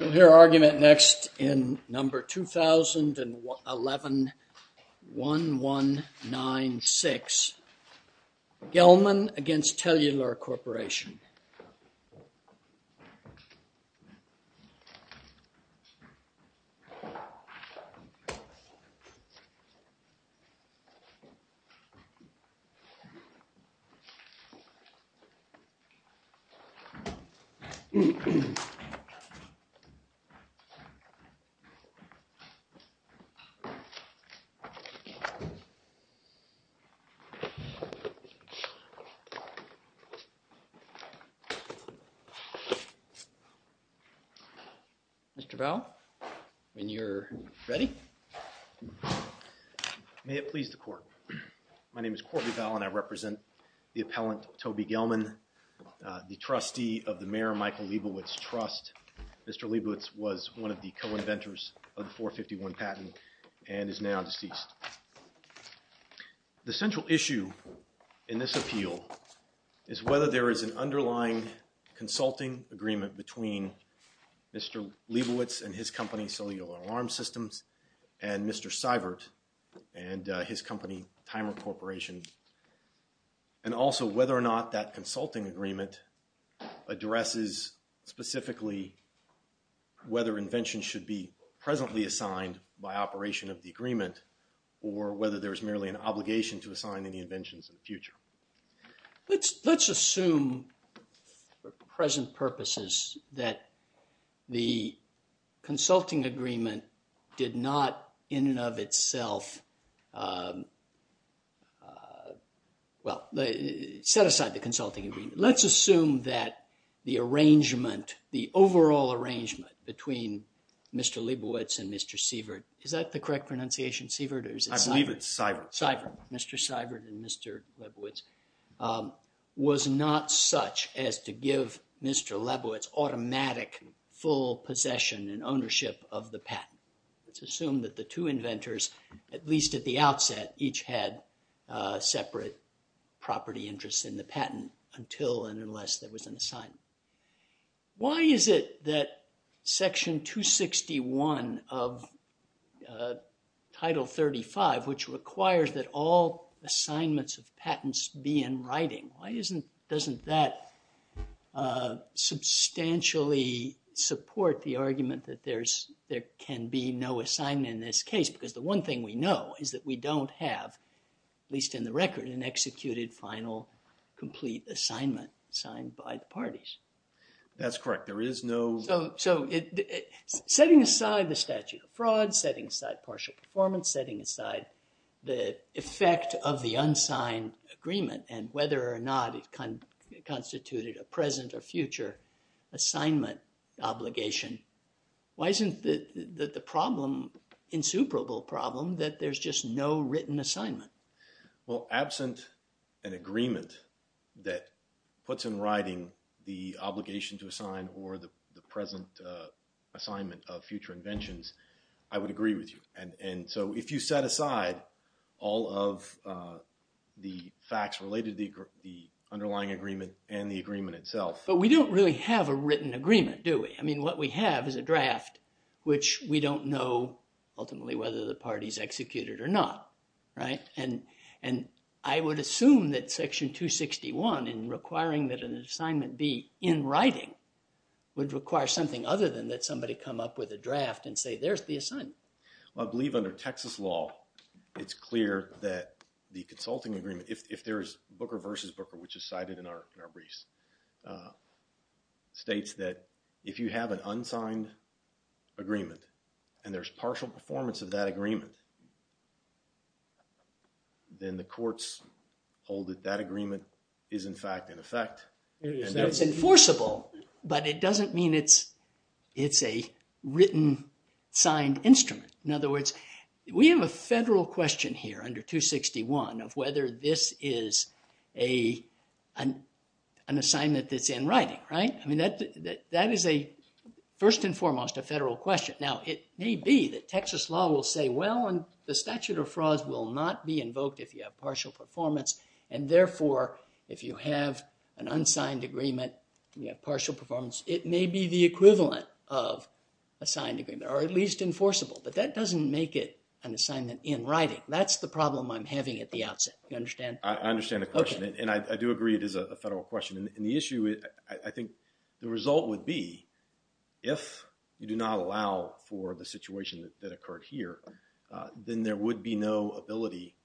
We'll hear argument next in number 2011-1196, Gelman against Tellular Corporation. We'll hear argument next in number 2011-1196, Gelman against Tellular Corporation. Mr. Vaughn, when you're ready. May it please the court. My name is Courtney Vaughn and I represent the appellant Toby Gelman, the trustee of the Mayor Michael Leibovitz Trust. Mr. Leibovitz was one of the co-inventors of the 451 patent and is now deceased. The central issue in this appeal is whether there is an underlying consulting agreement between Mr. Leibovitz and his company, Cellular Alarm Systems, and Mr. Seibert and his company, Timer Corporation. And also whether or not that consulting agreement addresses specifically whether inventions should be presently assigned by operation of the agreement or whether there is merely an obligation to assign any inventions in the future. Let's assume for present purposes that the consulting agreement did not in and of itself, well, set aside the consulting agreement. Let's assume that the arrangement, the overall arrangement between Mr. Leibovitz and Mr. Seibert, is that the correct pronunciation, Seibert or is it Seibert? I believe it's Seibert. Mr. Seibert and Mr. Leibovitz was not such as to give Mr. Leibovitz automatic full possession and ownership of the patent. Let's assume that the two inventors, at least at the outset, each had separate property interests in the patent until and unless there was an assignment. Why is it that Section 261 of Title 35, which requires that all assignments of patents be in writing, why doesn't that substantially support the argument that there can be no assignment in this case? Because the one thing we know is that we don't have, at least in the record, an executed final complete assignment signed by the parties. That's correct. There is no… So setting aside the statute of fraud, setting aside partial performance, setting aside the effect of the unsigned agreement and whether or not it constituted a present or future assignment obligation, why isn't the problem insuperable problem that there's just no written assignment? Well, absent an agreement that puts in writing the obligation to assign or the present assignment of future inventions, I would agree with you. And so if you set aside all of the facts related to the underlying agreement and the agreement itself… But we don't really have a written agreement, do we? I mean, what we have is a draft, which we don't know ultimately whether the party's executed or not, right? And I would assume that Section 261, in requiring that an assignment be in writing, would require something other than that somebody come up with a draft and say, there's the assignment. I believe under Texas law, it's clear that the consulting agreement, if there's Booker versus Booker, which is cited in our briefs, states that if you have an unsigned agreement and there's partial performance of that agreement, then the courts hold that that agreement is in fact in effect. It's enforceable, but it doesn't mean it's a written, signed instrument. In other words, we have a federal question here under 261 of whether this is an assignment that's in writing, right? I mean, that is a, first and foremost, a federal question. Now, it may be that Texas law will say, well, the statute of frauds will not be invoked if you have partial performance. And therefore, if you have an unsigned agreement, you have partial performance, it may be the equivalent of a signed agreement or at least enforceable. But that doesn't make it an assignment in writing. That's the problem I'm having at the outset. You understand? I understand the question. And I do agree it is a federal question. And the issue, I think the result would be if you do not allow for the situation that occurred here, then there would be no ability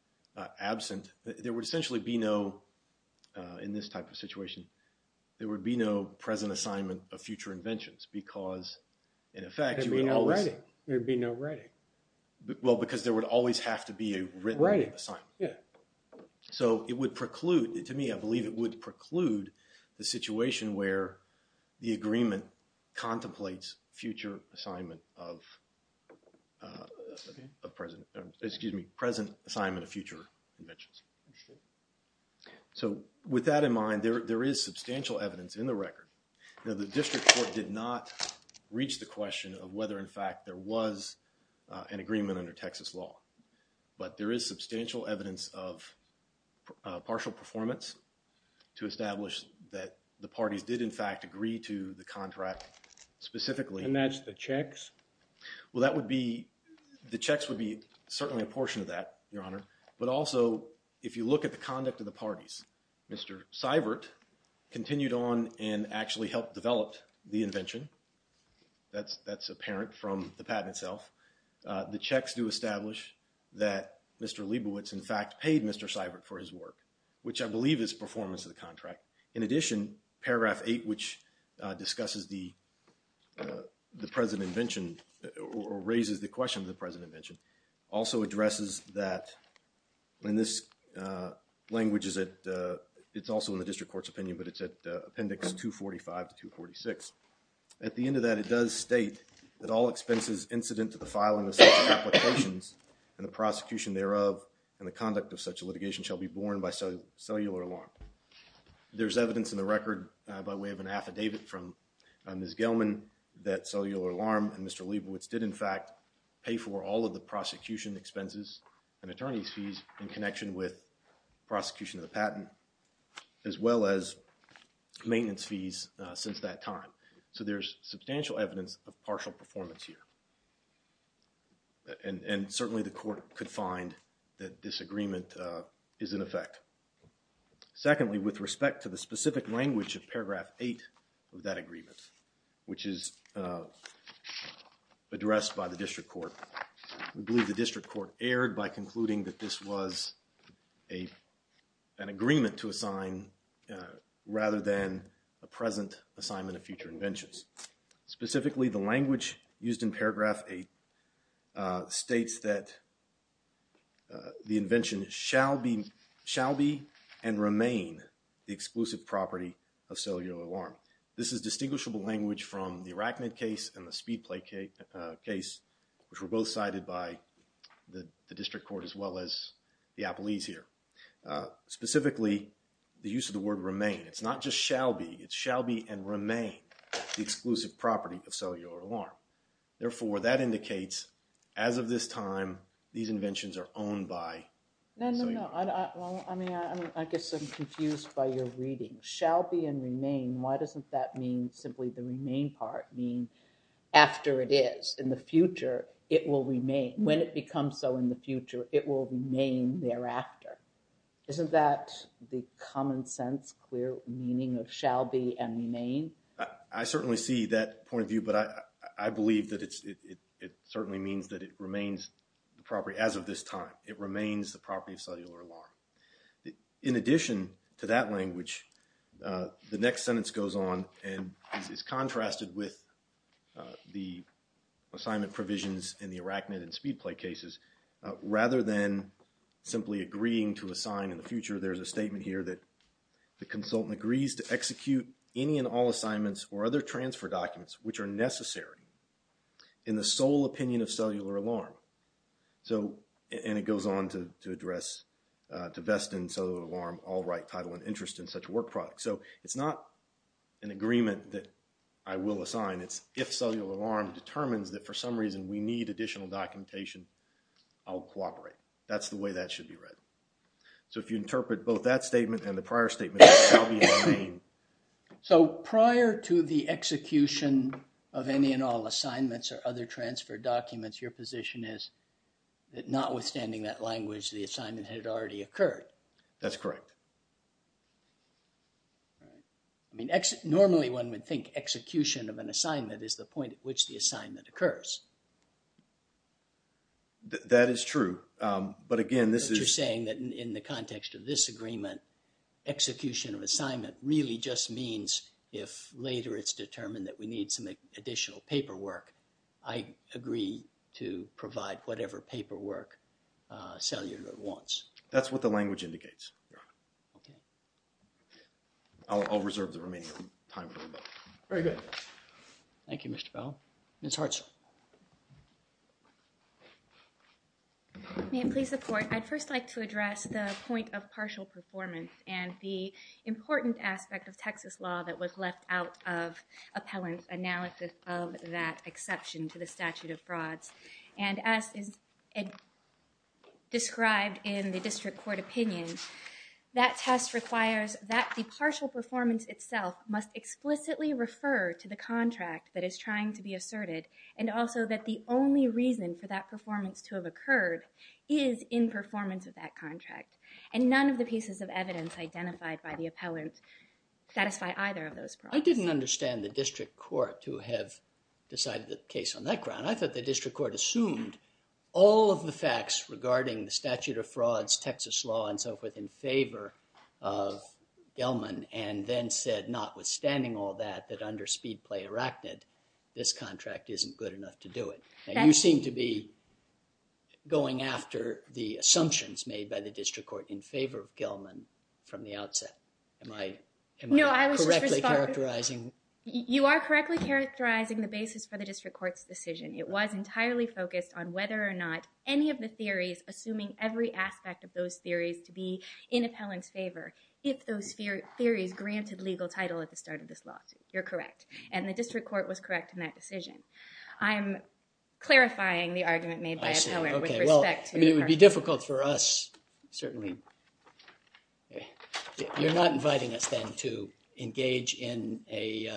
absent. There would essentially be no, in this type of situation, there would be no present assignment of future inventions because, in effect, you would always… There would be no writing. There would be no writing. Well, because there would always have to be a written assignment. Yeah. So, it would preclude, to me, I believe it would preclude the situation where the agreement contemplates future assignment of present, excuse me, present assignment of future inventions. So, with that in mind, there is substantial evidence in the record. Now, the district court did not reach the question of whether, in fact, there was an agreement under Texas law. But there is substantial evidence of partial performance to establish that the parties did, in fact, agree to the contract specifically. And that's the checks? Well, that would be – the checks would be certainly a portion of that, Your Honor. But also, if you look at the conduct of the parties, Mr. Seibert continued on and actually helped develop the invention. That's apparent from the patent itself. The checks do establish that Mr. Leibowitz, in fact, paid Mr. Seibert for his work, which I believe is performance of the contract. In addition, paragraph 8, which discusses the present invention or raises the question of the present invention, also addresses that – and this language is at – it's also in the district court's opinion, but it's at appendix 245 to 246. At the end of that, it does state that all expenses incident to the filing of such applications and the prosecution thereof and the conduct of such litigation shall be borne by cellular alarm. There's evidence in the record by way of an affidavit from Ms. Gelman that cellular alarm and Mr. Leibowitz did, in fact, pay for all of the prosecution expenses and attorney's fees in connection with prosecution of the patent, as well as maintenance fees since that time. So there's substantial evidence of partial performance here. And certainly the court could find that disagreement is in effect. Secondly, with respect to the specific language of paragraph 8 of that agreement, which is addressed by the district court, we believe the district court erred by concluding that this was an agreement to assign rather than a present assignment of future inventions. Specifically, the language used in paragraph 8 states that the invention shall be and remain the exclusive property of cellular alarm. This is distinguishable language from the Arachnid case and the Speedplay case, which were both cited by the district court as well as the appellees here. Specifically, the use of the word remain, it's not just shall be, it's shall be and remain the exclusive property of cellular alarm. Therefore, that indicates as of this time, these inventions are owned by cellular alarm. No, I mean, I guess I'm confused by your reading. Shall be and remain, why doesn't that mean simply the remain part mean after it is? In the future, it will remain. When it becomes so in the future, it will remain thereafter. Isn't that the common sense, clear meaning of shall be and remain? I certainly see that point of view, but I believe that it certainly means that it remains the property as of this time. It remains the property of cellular alarm. In addition to that language, the next sentence goes on and is contrasted with the assignment provisions in the Arachnid and Speedplay cases. Rather than simply agreeing to assign in the future, there's a statement here that the consultant agrees to execute any and all assignments or other transfer documents, which are necessary in the sole opinion of cellular alarm. So, and it goes on to address, to vest in cellular alarm all right title and interest in such work product. So, it's not an agreement that I will assign. It's if cellular alarm determines that for some reason we need additional documentation, I'll cooperate. That's the way that should be read. So, if you interpret both that statement and the prior statement, shall be and remain. So, prior to the execution of any and all assignments or other transfer documents, your position is that notwithstanding that language, the assignment had already occurred. That's correct. I mean, normally one would think execution of an assignment is the point at which the assignment occurs. That is true. But again, this is saying that in the context of this agreement, execution of assignment really just means if later it's determined that we need some additional paperwork, I agree to provide whatever paperwork cellular wants. That's what the language indicates. I'll reserve the remaining time. Very good. Thank you, Mr. Bell. Ms. Hartzell. May it please the court. I'd first like to address the point of partial performance and the important aspect of Texas law that was left out of appellant analysis of that exception to the statute of frauds. And as described in the district court opinion, that test requires that the partial performance itself must explicitly refer to the contract that is trying to be asserted. And also that the only reason for that performance to have occurred is in performance of that contract. And none of the pieces of evidence identified by the appellant satisfy either of those problems. I didn't understand the district court to have decided the case on that ground. I thought the district court assumed all of the facts regarding the statute of frauds, Texas law, and so forth in favor of Gelman and then said notwithstanding all that, that under speed play arachnid, this contract isn't good enough to do it. And you seem to be going after the assumptions made by the district court in favor of Gelman from the outset. Am I correctly characterizing? You are correctly characterizing the basis for the district court's decision. It was entirely focused on whether or not any of the theories, assuming every aspect of those theories to be in appellant's favor, if those theories granted legal title at the start of this law. You're correct. And the district court was correct in that decision. I'm clarifying the argument made by appellant with respect to the contract. It's difficult for us, certainly. You're not inviting us then to engage in a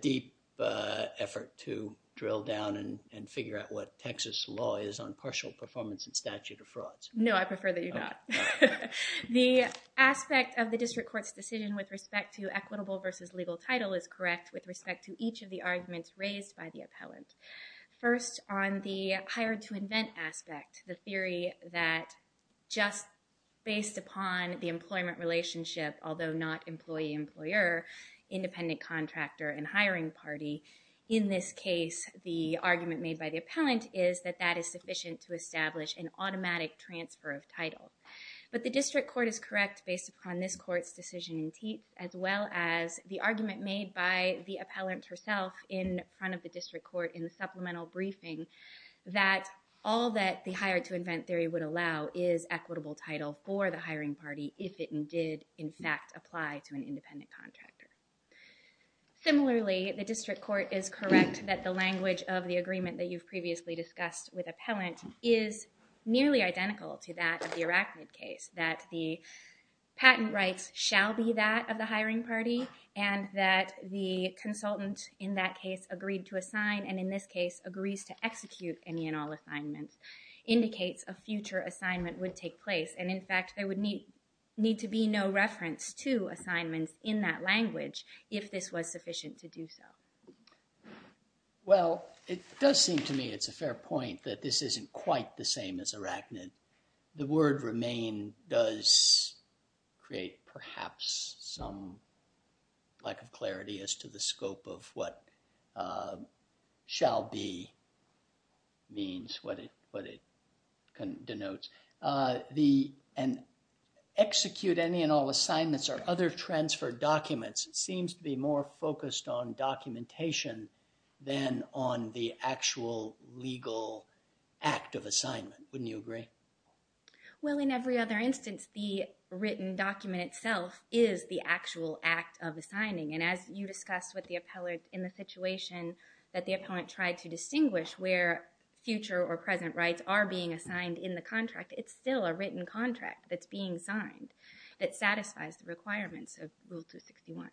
deep effort to drill down and figure out what Texas law is on partial performance and statute of frauds. No, I prefer that you're not. The aspect of the district court's decision with respect to equitable versus legal title is correct with respect to each of the arguments raised by the appellant. First, on the hired to invent aspect, the theory that just based upon the employment relationship, although not employee-employer, independent contractor and hiring party, in this case, the argument made by the appellant is that that is sufficient to establish an automatic transfer of title. But the district court is correct based upon this court's decision in Teats as well as the argument made by the appellant herself in front of the district court in the supplemental briefing that all that the hired to invent theory would allow is equitable title for the hiring party if it did, in fact, apply to an independent contractor. Similarly, the district court is correct that the language of the agreement that you've previously discussed with appellant is nearly identical to that of the Arachnid case, that the patent rights shall be that of the hiring party and that the consultant in that case agreed to assign and in this case agrees to execute any and all assignments indicates a future assignment would take place and, in fact, there would need to be no reference to assignments in that language if this was sufficient to do so. Well, it does seem to me it's a fair point that this isn't quite the same as Arachnid. The word remain does create perhaps some lack of clarity as to the scope of what shall be means, what it denotes. And execute any and all assignments or other transfer documents seems to be more focused on documentation than on the actual legal act of assignment. Wouldn't you agree? Well, in every other instance, the written document itself is the actual act of assigning. And as you discussed with the appellant in the situation that the appellant tried to distinguish where future or present rights are being assigned in the contract, it's still a written contract that's being signed that satisfies the requirements of Rule 261.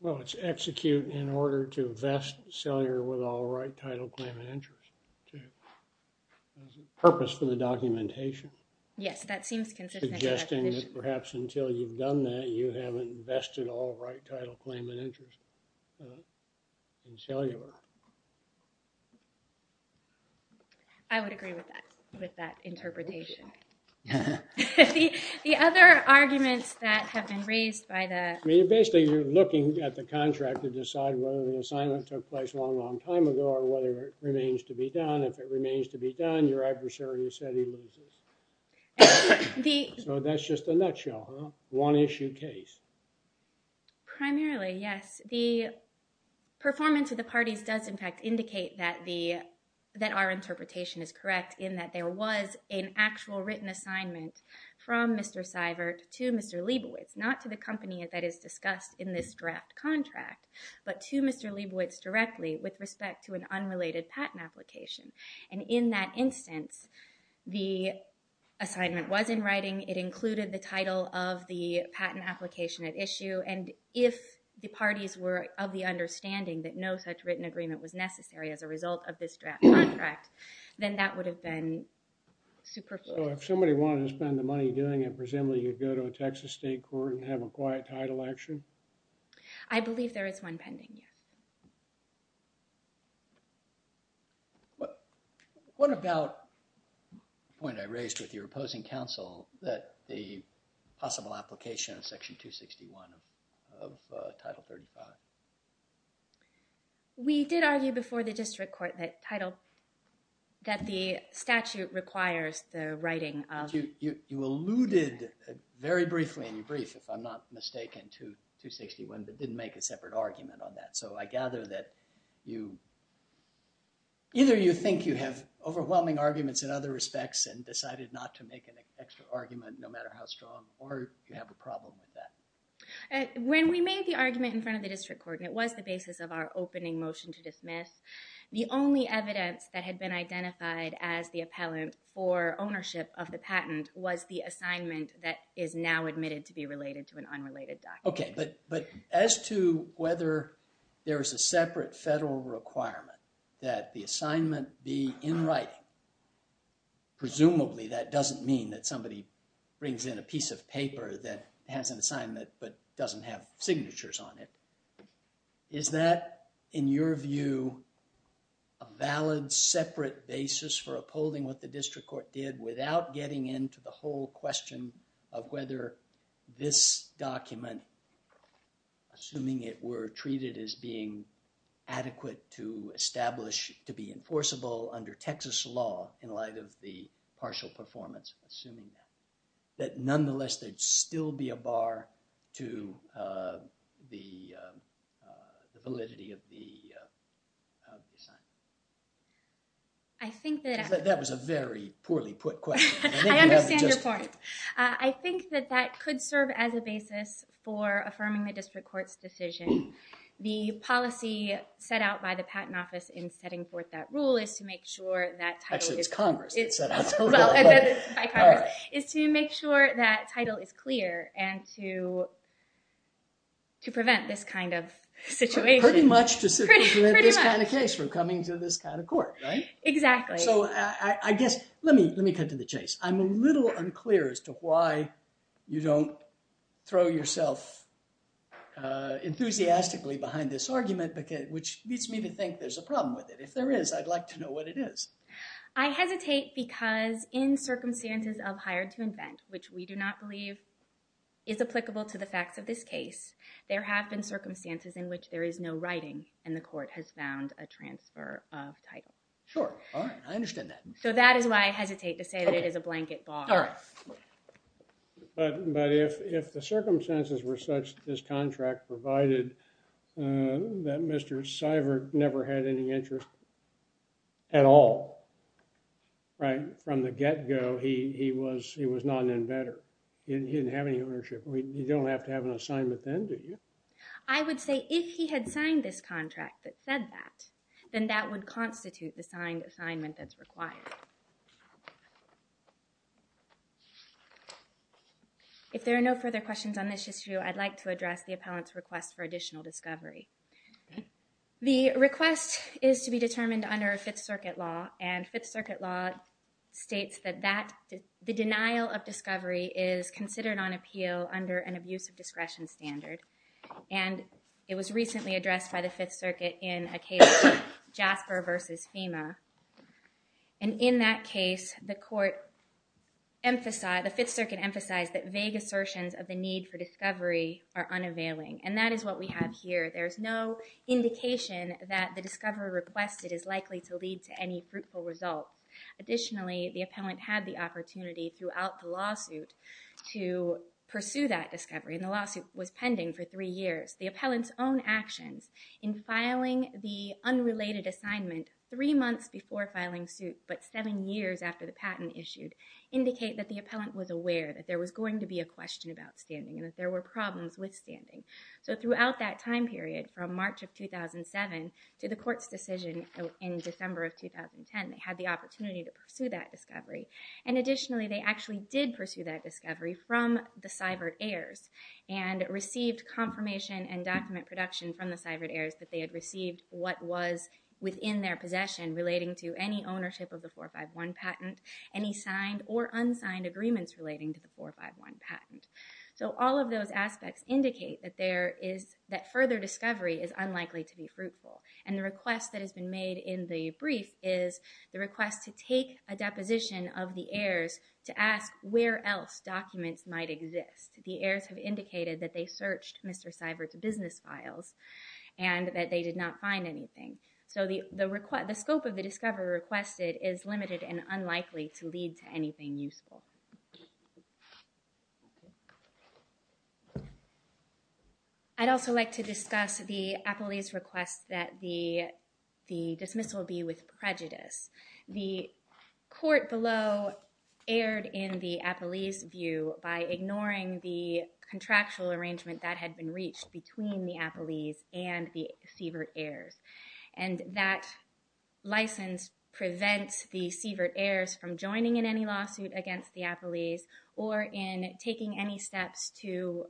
Well, it's execute in order to vest cellular with all right title claim and interest. Purpose for the documentation. Yes, that seems consistent. Suggesting that perhaps until you've done that, you haven't vested all right title claim and interest in cellular. I would agree with that, with that interpretation. The other arguments that have been raised by the... I mean, basically, you're looking at the contract to decide whether the assignment took place a long, long time ago or whether it remains to be done. If it remains to be done, your adversary has said he loses. So that's just a nutshell, huh? One issue case. Primarily, yes. The performance of the parties does, in fact, indicate that our interpretation is correct in that there was an actual written assignment from Mr. Seibert to Mr. Leibowitz, not to the company that is discussed in this draft contract, but to Mr. Leibowitz directly with respect to an unrelated patent application. And in that instance, the assignment was in writing. It included the title of the patent application at issue. And if the parties were of the understanding that no such written agreement was necessary as a result of this draft contract, then that would have been superfluous. So if somebody wanted to spend the money doing it, presumably you'd go to a Texas state court and have a quiet title action? I believe there is one pending, yes. What about the point I raised with your opposing counsel that the possible application of Section 261 of Title 35? We did argue before the district court that the statute requires the writing of— You alluded very briefly in your brief, if I'm not mistaken, to 261, but didn't make a separate argument on that. So I gather that either you think you have overwhelming arguments in other respects and decided not to make an extra argument no matter how strong, or you have a problem with that. When we made the argument in front of the district court, it was the basis of our opening motion to dismiss. The only evidence that had been identified as the appellant for ownership of the patent was the assignment that is now admitted to be related to an unrelated document. Okay, but as to whether there is a separate federal requirement that the assignment be in writing, presumably that doesn't mean that somebody brings in a piece of paper that has an assignment but doesn't have signatures on it. Is that, in your view, a valid separate basis for upholding what the district court did without getting into the whole question of whether this document, assuming it were treated as being adequate to establish to be enforceable under Texas law in light of the partial performance, that nonetheless there'd still be a bar to the validity of the assignment? I think that... That was a very poorly put question. I understand your point. I think that that could serve as a basis for affirming the district court's decision. The policy set out by the Patent Office in setting forth that rule is to make sure that title is... Actually, it's Congress that set out that rule. ...is to make sure that title is clear and to prevent this kind of situation. Pretty much to prevent this kind of case from coming to this kind of court, right? Exactly. So, I guess, let me cut to the chase. I'm a little unclear as to why you don't throw yourself enthusiastically behind this argument, which leads me to think there's a problem with it. If there is, I'd like to know what it is. I hesitate because in circumstances of hired to invent, which we do not believe is applicable to the facts of this case, there have been circumstances in which there is no writing and the court has found a transfer of title. Sure. All right. I understand that. So, that is why I hesitate to say that it is a blanket bar. But if the circumstances were such, this contract provided that Mr. Seibert never had any interest at all, right? From the get-go, he was not an inventor. He didn't have any ownership. You don't have to have an assignment then, do you? I would say if he had signed this contract that said that, then that would constitute the signed assignment that's required. If there are no further questions on this issue, I'd like to address the appellant's request for additional discovery. The request is to be determined under a Fifth Circuit law, and Fifth Circuit law states that the denial of discovery is considered on appeal under an abuse of discretion standard. And it was recently addressed by the Fifth Circuit in a case, Jasper v. FEMA. And in that case, the court emphasized, the Fifth Circuit emphasized that vague assertions of the need for discovery are unavailing. And that is what we have here. There is no indication that the discovery requested is likely to lead to any fruitful results. Additionally, the appellant had the opportunity throughout the lawsuit to pursue that discovery. And the lawsuit was pending for three years. The appellant's own actions in filing the unrelated assignment three months before filing suit, but seven years after the patent issued, indicate that the appellant was aware that there was going to be a question about standing, and that there were problems with standing. So throughout that time period, from March of 2007 to the court's decision in December of 2010, they had the opportunity to pursue that discovery. And additionally, they actually did pursue that discovery from the Seibert heirs, and received confirmation and document production from the Seibert heirs that they had received what was within their possession relating to any ownership of the 451 patent, any signed or unsigned agreements relating to the 451 patent. So all of those aspects indicate that there is, that further discovery is unlikely to be fruitful. And the request that has been made in the brief is the request to take a deposition of the heirs to ask where else documents might exist. The heirs have indicated that they searched Mr. Seibert's business files and that they did not find anything. So the scope of the discovery requested is limited and unlikely to lead to anything useful. I'd also like to discuss the Appelese request that the dismissal be with prejudice. The court below erred in the Appelese view by ignoring the contractual arrangement that had been reached between the Appelese and the Seibert heirs. And that license prevents the Seibert heirs from joining in any lawsuit against the Appelese. Or in taking any steps to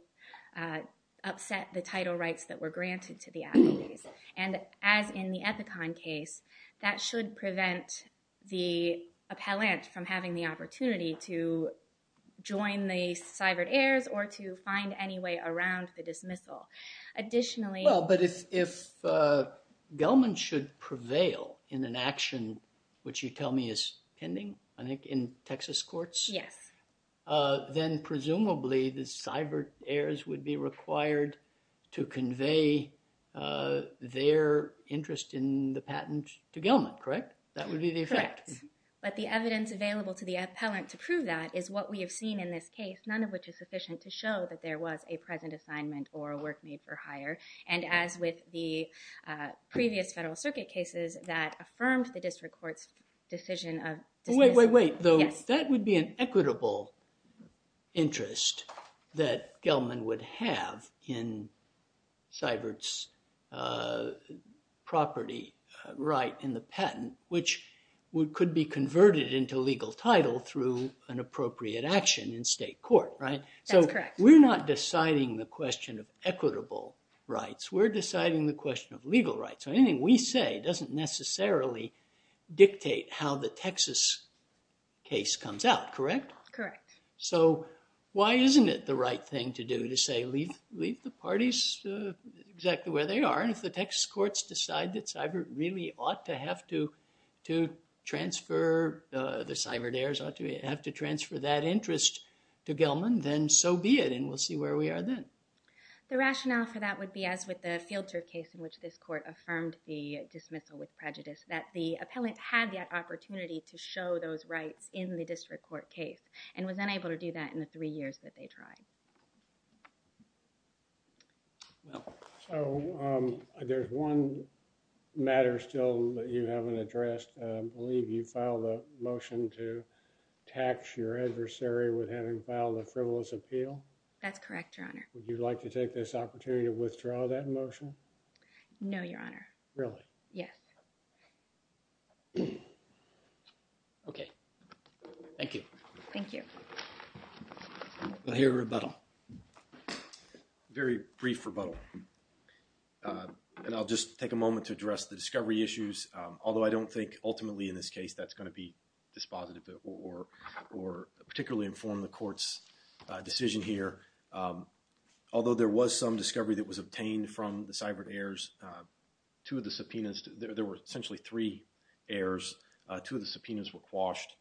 upset the title rights that were granted to the Appelese. And as in the Ethicon case, that should prevent the appellant from having the opportunity to join the Seibert heirs or to find any way around the dismissal. Additionally... If Gelman should prevail in an action which you tell me is pending, I think in Texas courts? Yes. Then presumably the Seibert heirs would be required to convey their interest in the patent to Gelman, correct? That would be the effect. Correct. But the evidence available to the appellant to prove that is what we have seen in this case, none of which is sufficient to show that there was a present assignment or a work made for hire. And as with the previous Federal Circuit cases that affirmed the district court's decision of dismissal. Wait, wait, wait. That would be an equitable interest that Gelman would have in Seibert's property right in the patent, which could be converted into legal title through an appropriate action in state court, right? That's correct. We're not deciding the question of equitable rights. We're deciding the question of legal rights. So anything we say doesn't necessarily dictate how the Texas case comes out, correct? Correct. So why isn't it the right thing to do to say, leave the parties exactly where they are? And if the Texas courts decide that Seibert really ought to have to transfer... Then so be it. And we'll see where we are then. The rationale for that would be, as with the Fielder case in which this court affirmed the dismissal with prejudice, that the appellant had the opportunity to show those rights in the district court case and was unable to do that in the three years that they tried. So there's one matter still that you haven't addressed. I believe you filed a motion to tax your adversary with having filed a frivolous appeal. That's correct, Your Honor. Would you like to take this opportunity to withdraw that motion? No, Your Honor. Really? Yes. Okay. Thank you. Thank you. We'll hear a rebuttal. Very brief rebuttal. And I'll just take a moment to address the discovery issues. Although I don't think ultimately in this case that's going to be dispositive or particularly inform the court's decision here. Although there was some discovery that was obtained from the Seibert heirs, two of the subpoenas, there were essentially three heirs. Two of the subpoenas were quashed.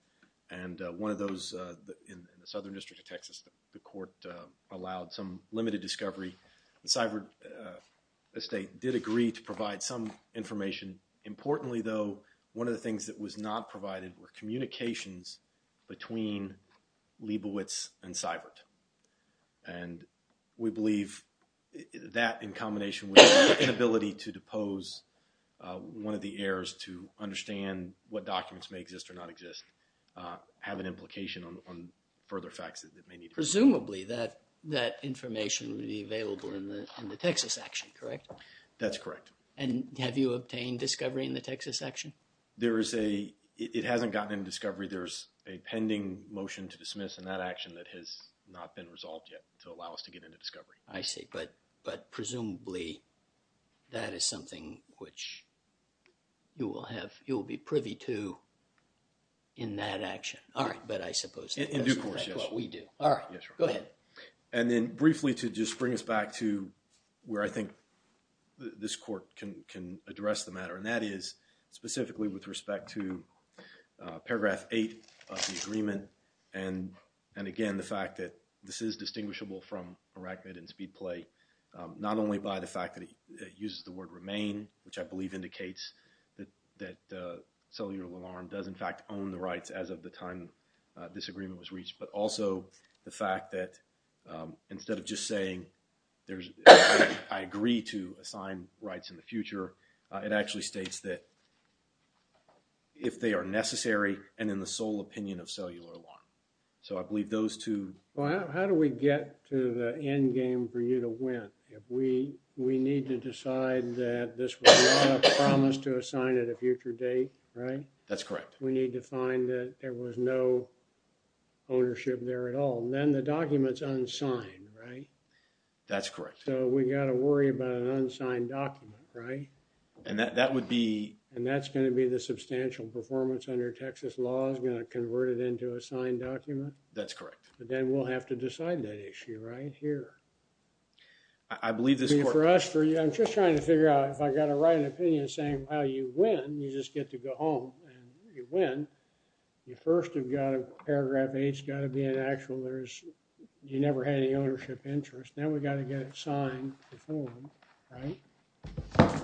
And one of those in the Southern District of Texas, the court allowed some limited discovery. The Seibert estate did agree to provide some information. Importantly, though, one of the things that was not provided were communications between Leibowitz and Seibert. And we believe that in combination with the inability to depose one of the heirs to understand what documents may exist or not exist have an implication on further facts that may need to be provided. Presumably that information would be available in the Texas action, correct? That's correct. And have you obtained discovery in the Texas action? It hasn't gotten into discovery. There's a pending motion to dismiss in that action that has not been resolved yet to allow us to get into discovery. I see. But presumably that is something which you will be privy to in that action. All right. But I suppose that's what we do. All right. Go ahead. And then briefly to just bring us back to where I think this court can address the matter, and that is specifically with respect to paragraph 8 of the agreement and again the fact that this is distinguishable from Arachnid and Speedplay, not only by the fact that it uses the word remain, which I believe indicates that Cellular Alarm does in fact own the rights as of the time this agreement was reached, but also the fact that instead of just saying I agree to assign rights in the future, it actually states that if they are necessary and in the sole opinion of Cellular Alarm. So I believe those two. Well, how do we get to the end game for you to win? We need to decide that this was not a promise to assign at a future date, right? That's correct. We need to find that there was no ownership there at all. And then the document's unsigned, right? That's correct. So we got to worry about an unsigned document, right? And that would be... And that's going to be the substantial performance under Texas law is going to convert it into a signed document? That's correct. But then we'll have to decide that issue right here. I believe this court... I'm just trying to figure out if I got to write an opinion saying, well, you win. You just get to go home and you win. You first have got a paragraph H, got to be an actual. There's... You never had any ownership interest. Now, we got to get it signed before, right?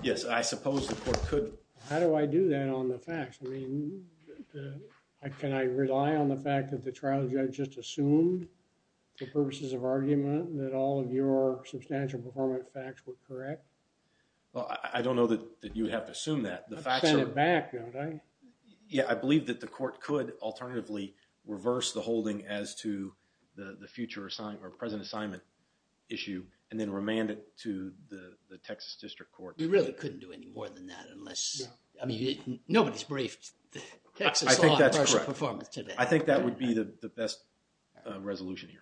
Yes. I suppose the court could... How do I do that on the facts? I mean, can I rely on the fact that the trial judge just assumed for purposes of argument that all of your substantial performance facts were correct? Well, I don't know that you would have to assume that. The facts are... Send it back, don't I? Yeah. I believe that the court could alternatively reverse the holding as to the future or present assignment issue and then remand it to the Texas District Court. You really couldn't do any more than that unless... Yeah. I mean, nobody's briefed... I think that's correct... Texas law on partial performance today. I think that would be the best resolution here.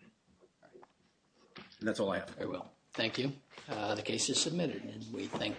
And that's all I have. Very well. Thank you. Thank you. The case is submitted, we think.